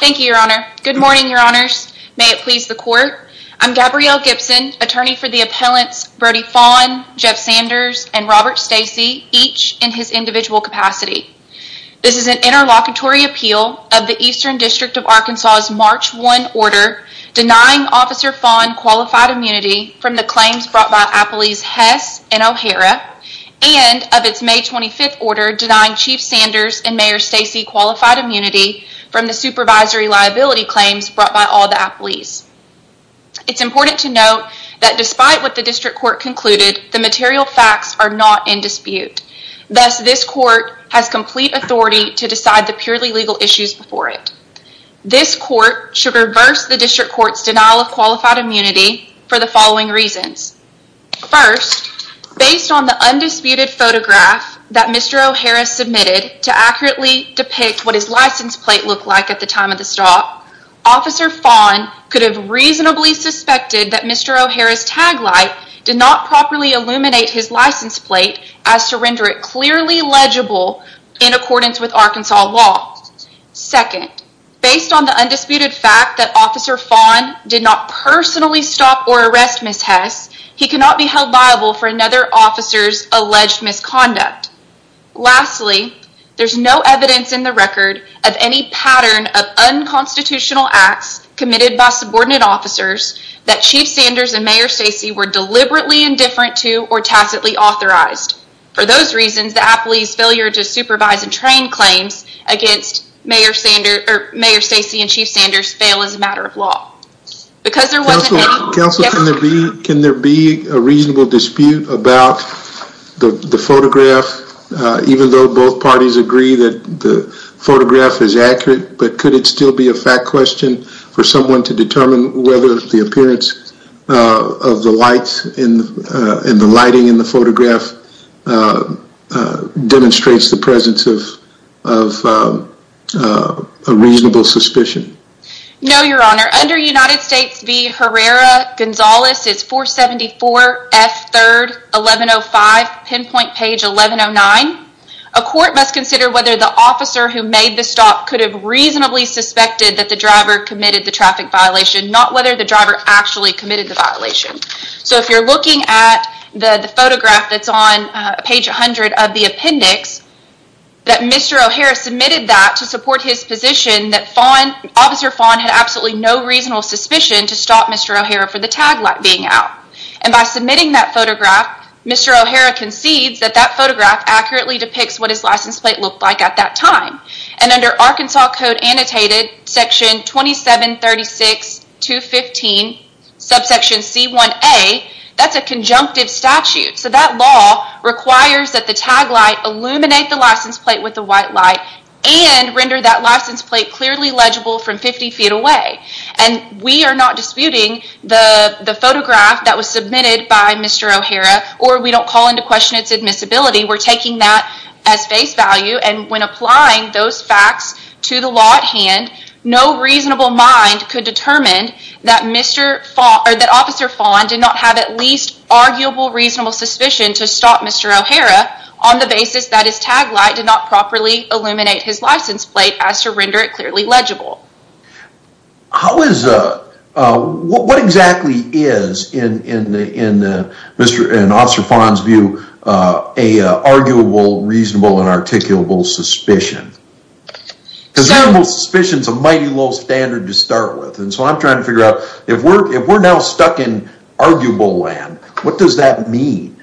Thank you, your honor. Good morning, your honors. May it please the court. I'm Gabrielle Gibson, attorney for the appellants Brodie Faughn, Jeff Sanders, and Robert Stacey, each in his individual capacity. This is an interlocutory appeal of the Eastern District of Arkansas's March 1 order denying Officer Faughn qualified immunity from the claims brought by a police Hess and O'Hara and of its May 25th order denying Chief Sanders and Mayor Stacey qualified immunity from the supervisory liability claims brought by all the appellees. It's important to note that despite what the district court concluded, the material facts are not in dispute. Thus, this court has complete authority to decide the purely legal issues before it. This court should reverse the district court's denial of qualified immunity for the following reasons. First, based on the undisputed photograph that Mr. O'Hara submitted to accurately depict what his license plate looked like at the time of the stop, Officer Faughn could have reasonably suspected that Mr. O'Hara's tag light did not properly illuminate his license plate as to render it clearly legible in accordance with Arkansas law. Second, based on the undisputed fact that Officer Faughn did not personally stop or arrest Ms. Hess, he cannot be held liable for another officer's alleged misconduct. Lastly, there's no evidence in the record of any pattern of unconstitutional acts committed by subordinate officers that Chief Sanders and Mayor Stacey were deliberately indifferent to or tacitly authorized. For those reasons, the appellee's failure to supervise and train claims against Mayor Stacey and Chief Sanders fail as a matter of law. Counselor, can there be a reasonable dispute about the photograph even though both parties agree that the photograph is accurate but could it still be a fact question for someone to determine whether the appearance of the lights and the lighting in the photograph demonstrates the presence of a reasonable suspicion? No, Your Honor. Under United States v Herrera-Gonzalez, it's 474 F 3rd 1105, pinpoint page 1109. A court must consider whether the officer who made the stop could have reasonably suspected that the driver committed the traffic violation, not whether the driver actually committed the violation. So if you're looking at the photograph that's on page 100 of the appendix, that Mr. O'Hara submitted that to support his position that Officer Fawn had absolutely no reasonable suspicion to stop Mr. O'Hara for the tag light being out. And by submitting that photograph, Mr. O'Hara concedes that that photograph accurately depicts what his license plate looked like at that time. And under Arkansas Code Annotated Section 2736-215 subsection c1a, that's a conjunctive statute. So that law requires that the tag light illuminate the license plate with the white light and render that license plate clearly legible from 50 feet away. And we are not disputing the photograph that was submitted by Mr. O'Hara or we don't call into question its admissibility. We're taking that as face value and when applying those facts to the law at hand, no reasonable mind could determine that Mr. Fawn, or that Officer Fawn did not have at least arguable reasonable suspicion to stop Mr. O'Hara on the basis that his tag light did not properly illuminate his license plate as to render it clearly legible. How is, what exactly is in Officer Fawn's view, a arguable reasonable and articulable suspicion? Because reasonable suspicion is a mighty low standard to start with and so I'm trying to figure out if we're now stuck in arguable land, what does that mean?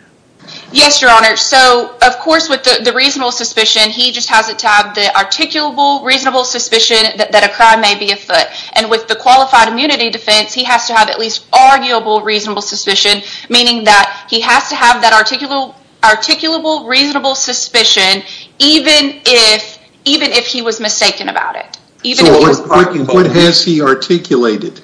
Yes, your honor. So of course with the reasonable suspicion, he just has to have the articulable reasonable suspicion that a crime may be afoot. And with the qualified immunity defense, he has to have at least arguable reasonable suspicion, meaning that he has to have that articulable reasonable suspicion even if he was mistaken about it. So what has he articulated?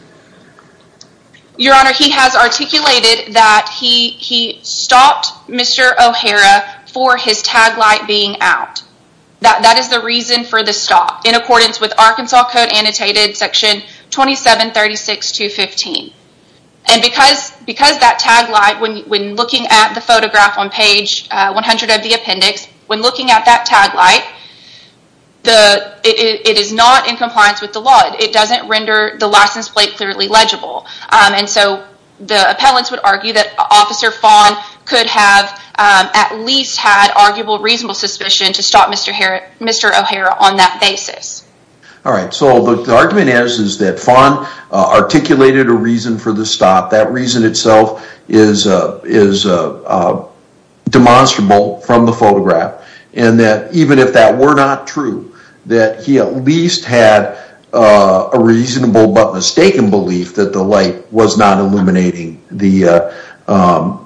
Your honor, he has articulated that he stopped Mr. O'Hara for his tag light being out. That is the reason for the stop in accordance with Arkansas Code Annotated Section 2736.215. And because that tag light, when looking at the photograph on page 100 of the appendix, when looking at that tag light, it is not in compliance with the law. It doesn't render the license plate clearly legible. And so the appellants would argue that Officer Fawn could have at least had arguable reasonable suspicion to stop Mr. O'Hara on that basis. All right. So the argument is, is that Fawn articulated a reason for the stop. That reason itself is demonstrable from the photograph. And that even if that were not true, that he at least had a reasonable but mistaken belief that the light was not illuminating the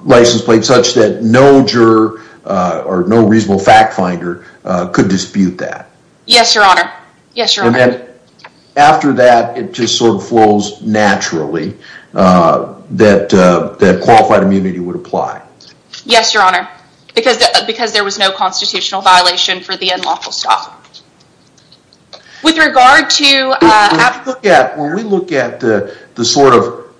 license plate such that no juror or no reasonable fact finder could dispute that. Yes, your honor. Yes, your honor. And then after that, it just sort of flows naturally that qualified immunity would apply. Yes, your honor. Because there was no constitutional violation for the unlawful stop. With regard to... When we look at the sort of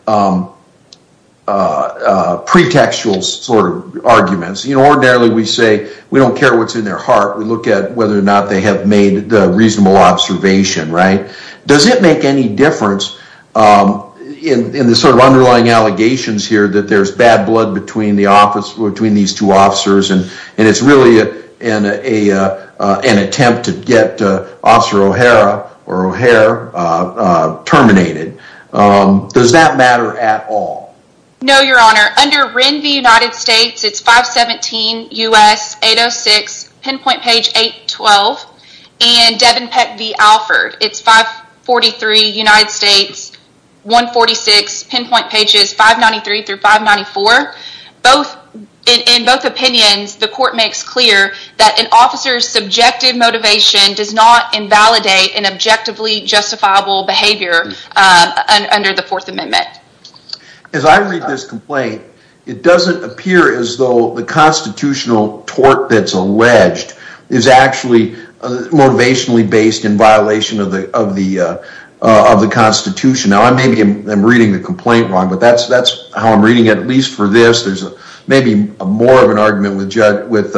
pretextual sort of arguments, you know, ordinarily we say we don't care what's in their heart. We look at whether or not they have made the reasonable observation, right? Does it make any difference in the sort of underlying allegations here that there's bad blood between the officer, between these two officers? And it's really an attempt to get Officer O'Hara or O'Hare terminated. Does that matter at all? No, your honor. Under Wren v. United States, it's 517 U.S. 806, pinpoint page 812. And Devin Peck v. Alford, it's 543 United States, 146, pinpoint pages 593 through 594. In both opinions, the court makes clear that an officer's subjective motivation does not invalidate an objectively justifiable behavior under the Fourth Amendment. As I read this complaint, it doesn't appear as though the constitutional tort that's alleged is actually motivationally based in violation of the Constitution. Now, maybe I'm reading the complaint wrong, but that's how I'm reading it. At least for this, there's maybe more of an argument with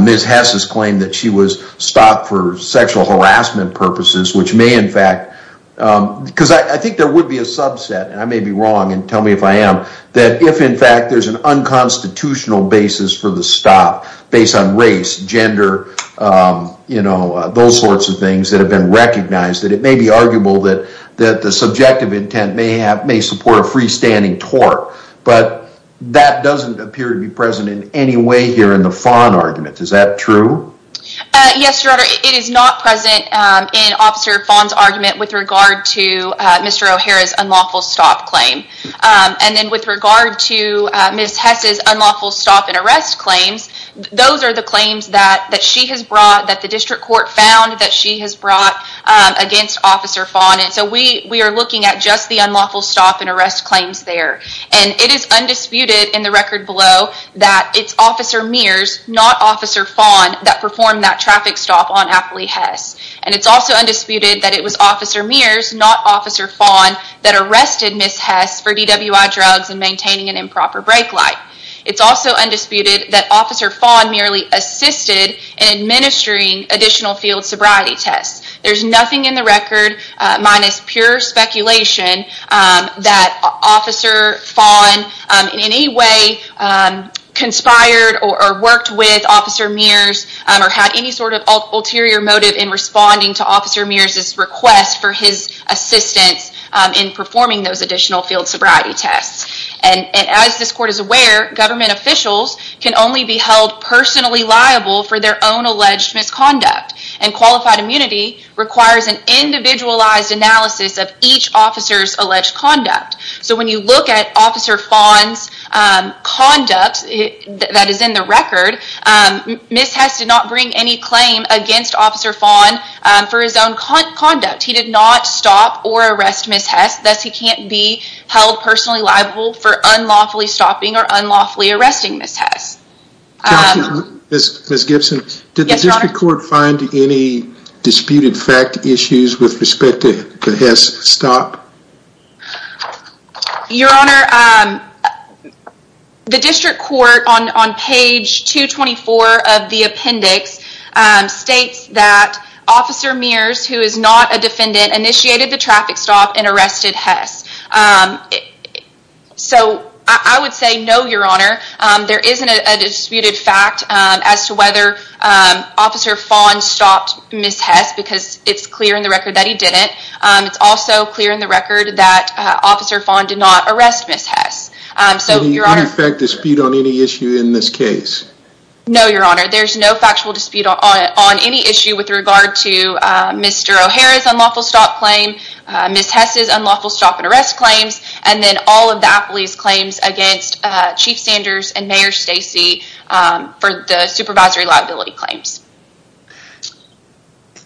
Ms. Hess's claim that she was stopped for sexual harassment purposes, which may in fact, because I think there would be a subset, and I may be wrong, and tell me if I am, that if in fact there's an unconstitutional basis for the stop based on race, gender, you know, those sorts of things that have been recognized, that it may be that doesn't appear to be present in any way here in the Fon argument. Is that true? Yes, Your Honor. It is not present in Officer Fon's argument with regard to Mr. O'Hara's unlawful stop claim. And then with regard to Ms. Hess's unlawful stop and arrest claims, those are the claims that she has brought, that the district court found that she has brought against Officer Fon. And so we are looking at just the unlawful stop and arrest claims there. And it is undisputed in the record below that it's Officer Mears, not Officer Fon, that performed that traffic stop on Apley Hess. And it's also undisputed that it was Officer Mears, not Officer Fon, that arrested Ms. Hess for DWI drugs and maintaining an improper brake light. It's also undisputed that Officer Fon merely assisted in administering additional sobriety tests. There's nothing in the record, minus pure speculation, that Officer Fon in any way conspired or worked with Officer Mears or had any sort of ulterior motive in responding to Officer Mears' request for his assistance in performing those additional field sobriety tests. And as this court is aware, government officials can only be held personally liable for their own misconduct. And qualified immunity requires an individualized analysis of each officer's alleged conduct. So when you look at Officer Fon's conduct that is in the record, Ms. Hess did not bring any claim against Officer Fon for his own conduct. He did not stop or arrest Ms. Hess, thus he can't be held personally liable for unlawfully stopping or unlawfully arresting Ms. Hess. Counsel, Ms. Gibson, did the district court find any disputed fact issues with respect to the Hess stop? Your Honor, the district court on page 224 of the appendix states that Officer Mears, who is not a defendant, initiated the traffic stop and arrested Hess. So, I would say no, Your Honor. There isn't a disputed fact as to whether Officer Fon stopped Ms. Hess because it's clear in the record that he didn't. It's also clear in the record that Officer Fon did not arrest Ms. Hess. So, Your Honor. Any fact dispute on any issue in this case? No, Your Honor. There's no factual dispute on any issue with regard to Mr. O'Hara's unlawful stop claim, Ms. Hess's unlawful stop and arrest claims, and then all of the appellee's claims against Chief Sanders and Mayor Stacey for the supervisory liability claims.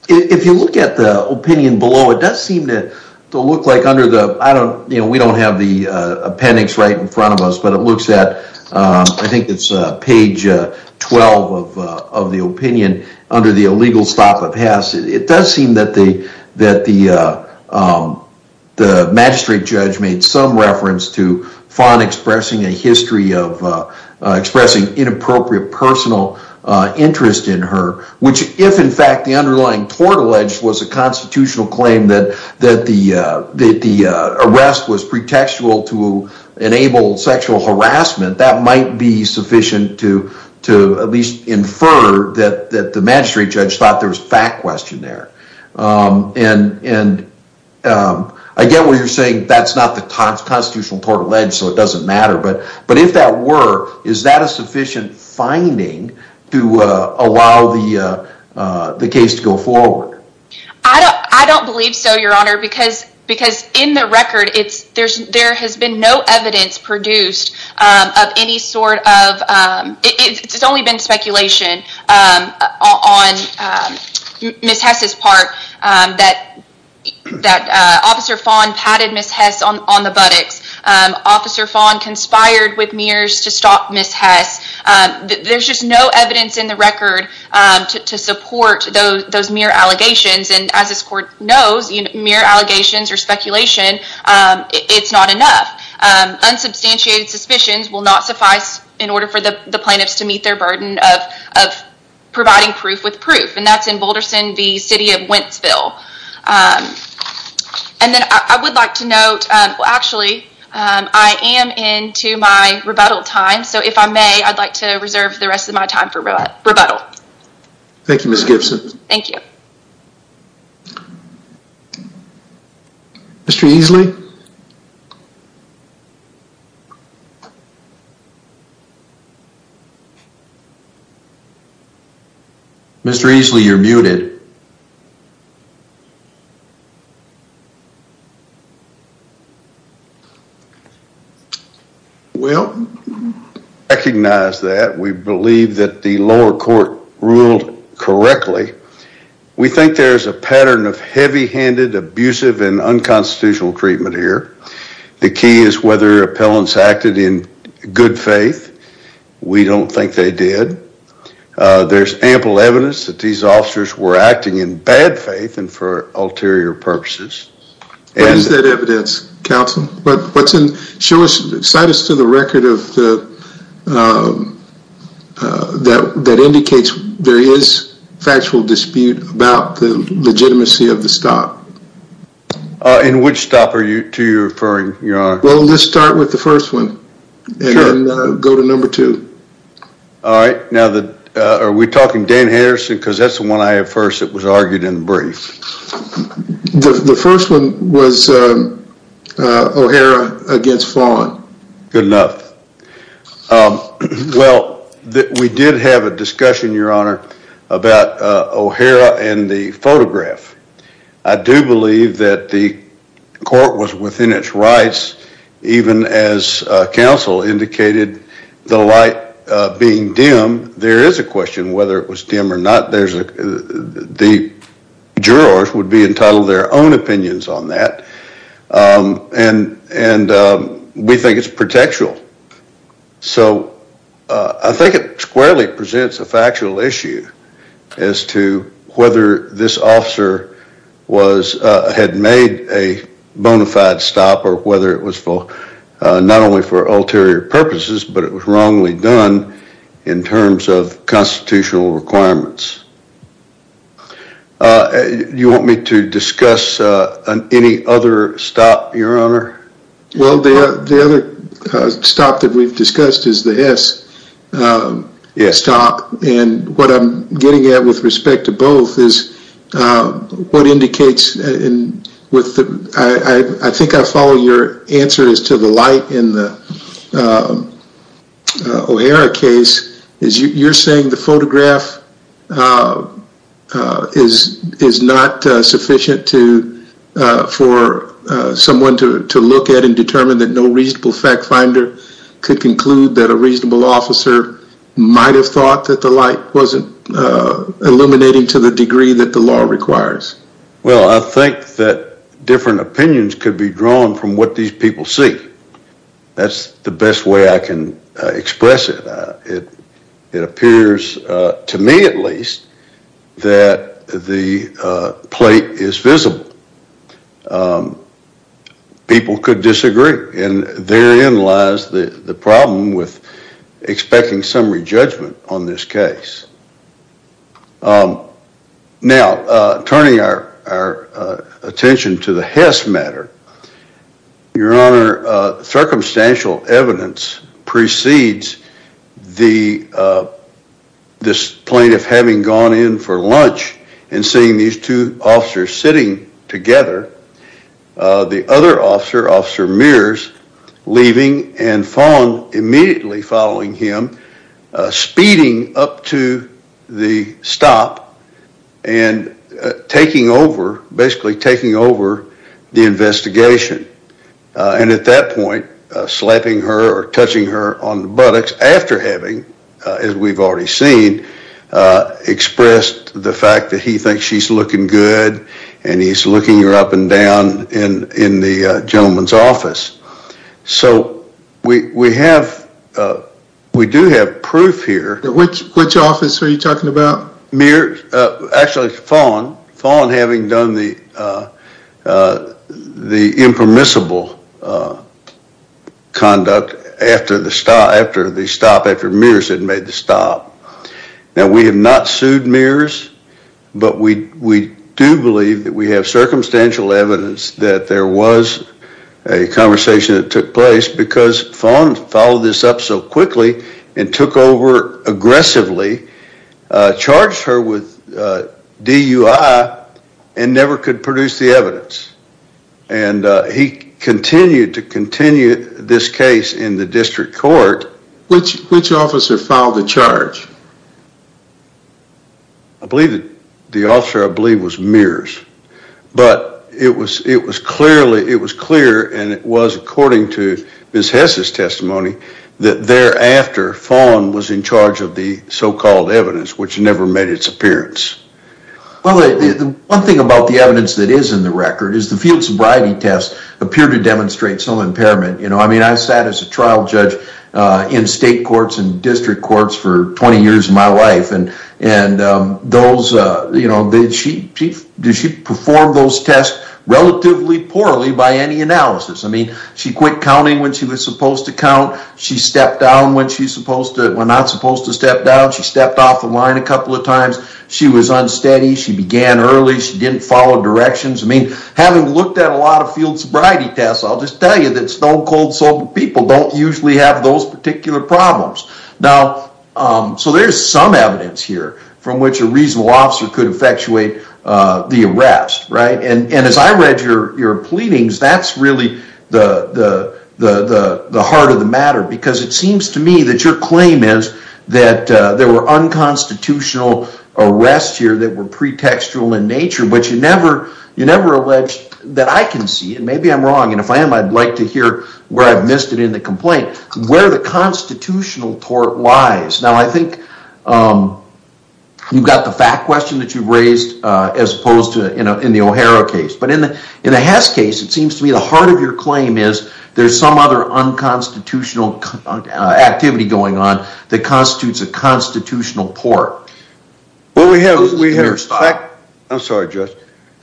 If you look at the opinion below, it does seem to look like under the, I don't, you know, we don't have the appendix right in front of us, but it looks at, I think it's page 12 of the opinion, under the illegal stop of Hess, it does seem that the magistrate judge made some reference to Fon expressing a history of expressing inappropriate personal interest in her, which if in fact the underlying tort alleged was a constitutional claim that the arrest was that the magistrate judge thought there was fact question there. And I get what you're saying, that's not the constitutional tort alleged, so it doesn't matter, but if that were, is that a sufficient finding to allow the case to go forward? I don't believe so, Your Honor, because in the record, there has been no evidence produced of any sort of, it's only been speculation on Ms. Hess' part that Officer Fon patted Ms. Hess on the buttocks, Officer Fon conspired with Mayors to stop Ms. Hess, there's just no evidence in the record to support those Mayor allegations, and as this court knows, Mayor allegations or speculation, it's not enough. Unsubstantiated suspicions will not suffice in order for the plaintiffs to meet their burden of providing proof with proof, and that's in Boulderston v. City of Wentzville. And then I would like to note, well actually, I am into my rebuttal time, so if I may, I'd like to reserve the rest of my time for rebuttal. Thank you, Ms. Gibson. Thank you. Mr. Easley? Mr. Easley, you're muted. Well, we recognize that, we believe that the lower court ruled correctly. We think there's a pattern of heavy-handed, abusive, and unconstitutional treatment here. The key is whether appellants acted in good faith. We don't think they did. There's ample evidence that these officers were bad faith, and for ulterior purposes. What is that evidence, counsel? But what's in, show us, cite us to the record of the, that indicates there is factual dispute about the legitimacy of the stop. In which stop are you, to your referring, your honor? Well, let's start with the first one, and then go to number two. All right, now the, are we talking Dan Harrison, because that's the one I have first that was argued in brief. The first one was O'Hara against Fawn. Good enough. Well, we did have a discussion, your honor, about O'Hara and the photograph. I do believe that the court was within its rights, even as counsel indicated, the light being dim. There is a the jurors would be entitled to their own opinions on that, and we think it's protectural. So, I think it squarely presents a factual issue as to whether this officer was, had made a bona fide stop, or whether it was for, not only for ulterior purposes, but it was wrongly done in terms of constitutional requirements. You want me to discuss any other stop, your honor? Well, the other stop that we've discussed is the S stop, and what I'm getting at with respect to both is what indicates, and with the, I think I follow your answer is to the light in the O'Hara case, is you're saying the photograph is not sufficient to, for someone to look at and determine that no reasonable fact finder could conclude that a reasonable officer might have thought that the light wasn't illuminating to the degree that the law requires. Well, I think that different opinions could be drawn from what these people see. That's the best way I can express it. It appears, to me at least, that the plate is visible. People could disagree, and therein lies the problem with your honor. Circumstantial evidence precedes the, this plaintiff having gone in for lunch and seeing these two officers sitting together. The other officer, Officer Mears, leaving and immediately following him, speeding up to the stop and taking over, the investigation. And at that point, slapping her or touching her on the buttocks after having, as we've already seen, expressed the fact that he thinks she's looking good, and he's looking her up and down in the gentleman's office. So we have, we do have proof here. Which office are you talking about? Mears, actually Fawn. Fawn having done the impermissible conduct after the stop, after Mears had made the stop. Now, we have not sued Mears, but we do believe that we have circumstantial evidence that there was a conversation that took because Fawn followed this up so quickly and took over aggressively, charged her with DUI, and never could produce the evidence. And he continued to continue this case in the district court. Which officer filed the charge? I believe that the officer, I believe, was Mears. But it was clearly, it was clear, and it was according to Ms. Hess's testimony, that thereafter, Fawn was in charge of the so-called evidence, which never made its appearance. Well, one thing about the evidence that is in the record is the field sobriety test appeared to demonstrate some impairment. You know, I mean, I sat as a trial judge in state courts and district courts for 20 years of my life, and those, you know, did she perform those tests relatively poorly by any analysis? I mean, she quit counting when she was supposed to count. She stepped down when she's supposed to, when not supposed to step down. She stepped off the line a couple of times. She was unsteady. She began early. She didn't follow directions. I mean, having looked at a lot of field sobriety tests, I'll just tell you that stone-cold sober people don't usually have those particular problems. Now, so there's some evidence here from which a reasonable officer could effectuate the arrest, right? And as I read your pleadings, that's really the heart of the matter, because it seems to me that your claim is that there were unconstitutional arrests here that were pretextual in nature, but you never alleged that I can see, and maybe I'm wrong, and if I am, I'd like to hear where I've missed it in the You've got the fact question that you've raised as opposed to, you know, in the O'Hara case, but in the Hess case, it seems to me the heart of your claim is there's some other unconstitutional activity going on that constitutes a constitutional port. Well, we have, we have, I'm sorry, Judge.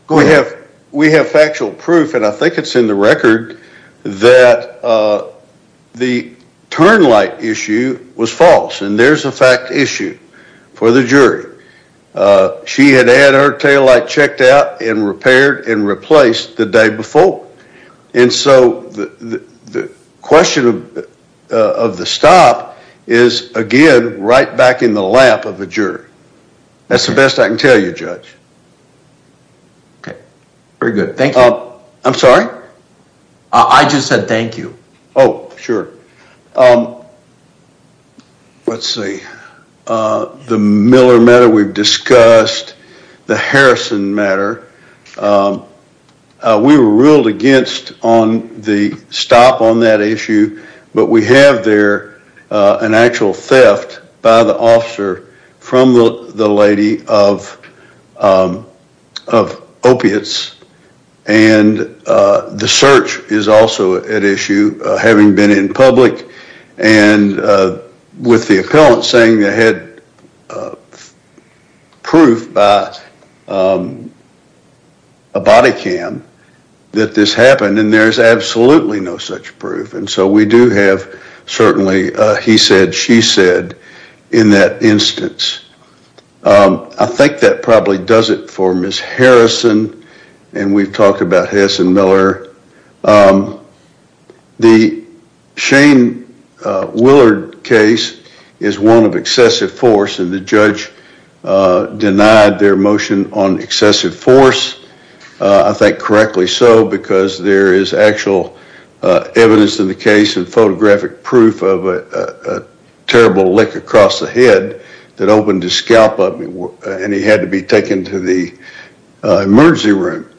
Go ahead. We have factual proof, and I think it's in the record, that the turn light issue was false, and there's a fact issue for the jury. She had had her tail light checked out and repaired and replaced the day before, and so the question of the stop is, again, right back in the lap of a jury. That's the best I can tell you, Judge. Okay, very good. Thank you. I'm sorry? I just said thank you. Oh, sure. Let's see. The Miller matter we've discussed, the Harrison matter, we were ruled against on the stop on that issue, but we have there an actual theft by the officer from the lady of opiates, and the search is also at issue, having been in public, and with the appellant saying they had proof by a body cam that this happened, and there's absolutely no such proof, and so we do have certainly he said, she said in that instance. I think that probably does it for Ms. Harrison, and we've talked about Harrison Miller. The Shane Willard case is one of excessive force, and the judge denied their motion on excessive force. I think correctly so, because there is actual evidence in the case and photographic proof of a terrible lick across the head that opened his scalp up, and he had to be taken to the emergency room.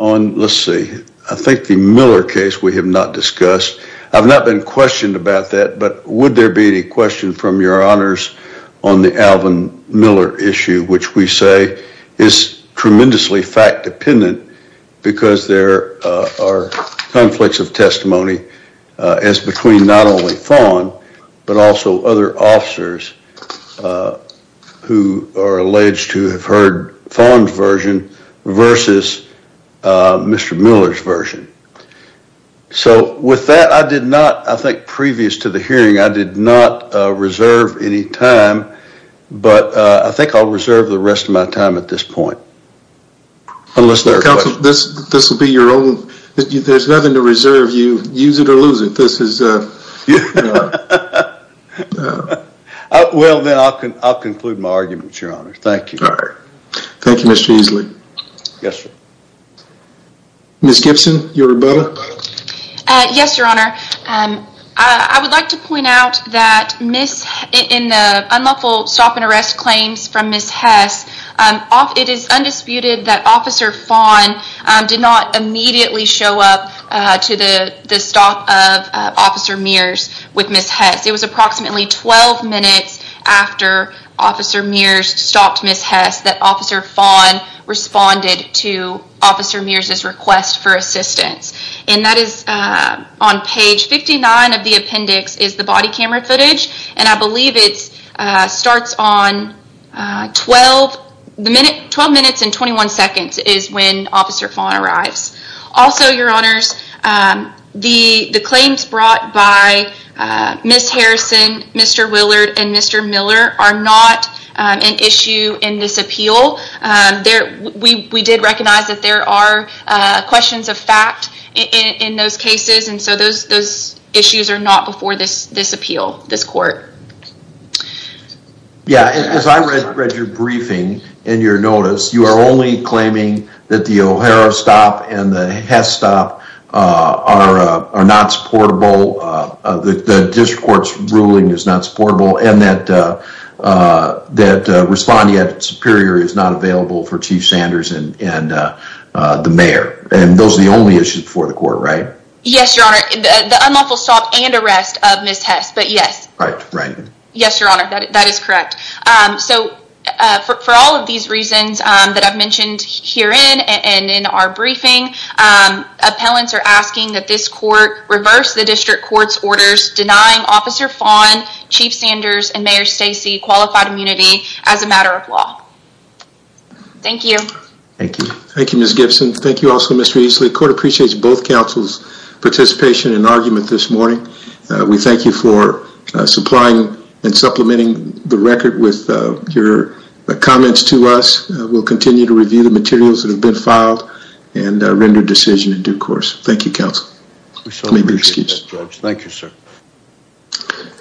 Let's see. I think the Miller case we have not discussed. I've not been questioned about that, but would there be any question from your honors on the Alvin Miller issue, which we say is but also other officers who are alleged to have heard Fawn's version versus Mr. Miller's version. So with that, I did not, I think previous to the hearing, I did not reserve any time, but I think I'll reserve the rest of my time at this point, unless there are questions. This will be your own. There's nothing to reserve. You use it or lose it. This is your own. Well, then I'll conclude my argument, your honor. Thank you. All right. Thank you, Mr. Easley. Yes, sir. Ms. Gibson, your rebuttal. Yes, your honor. I would like to point out that Ms., in the unlawful stop and arrest claims from Ms. Hess, it is undisputed that Officer Fawn did not immediately show up to the stop of Officer Mears with Ms. Hess. It was approximately 12 minutes after Officer Mears stopped Ms. Hess that Officer Fawn responded to Officer Mears' request for assistance. And that is on page 59 of the appendix is the body camera footage, and I believe it starts on 12 minutes and 21 seconds is when Officer Fawn arrives. Also, your honors, the claims brought by Ms. Harrison, Mr. Willard, and Mr. Miller are not an issue in this appeal. We did recognize that there are questions of fact in those cases, and so those issues are not before this appeal, this court. Yeah. As I read your briefing and your notice, you are only claiming that the O'Hara stop and the Hess stop are not supportable, that the district court's ruling is not supportable, and that responding at Superior is not available for Chief Sanders and the mayor. And those are the only issues before the court, right? Yes, your honor. The unlawful stop and arrest of Ms. Hess, but yes. Right, right. Yes, your honor, that is correct. So for all of these reasons that I've mentioned herein and in our briefing, appellants are asking that this court reverse the district court's orders denying Officer Fawn, Chief Sanders, and Mayor Stacey qualified immunity as a matter of law. Thank you. Thank you. Thank you, Ms. Gibson. Thank you also, Mr. Easley. The court appreciates both counsel's participation and argument this morning. We thank you for supplying and supplementing the record with your comments to us. We'll continue to review the materials that have been filed and render decision in due course. Thank you, counsel. We certainly appreciate that, George. Thank you, sir.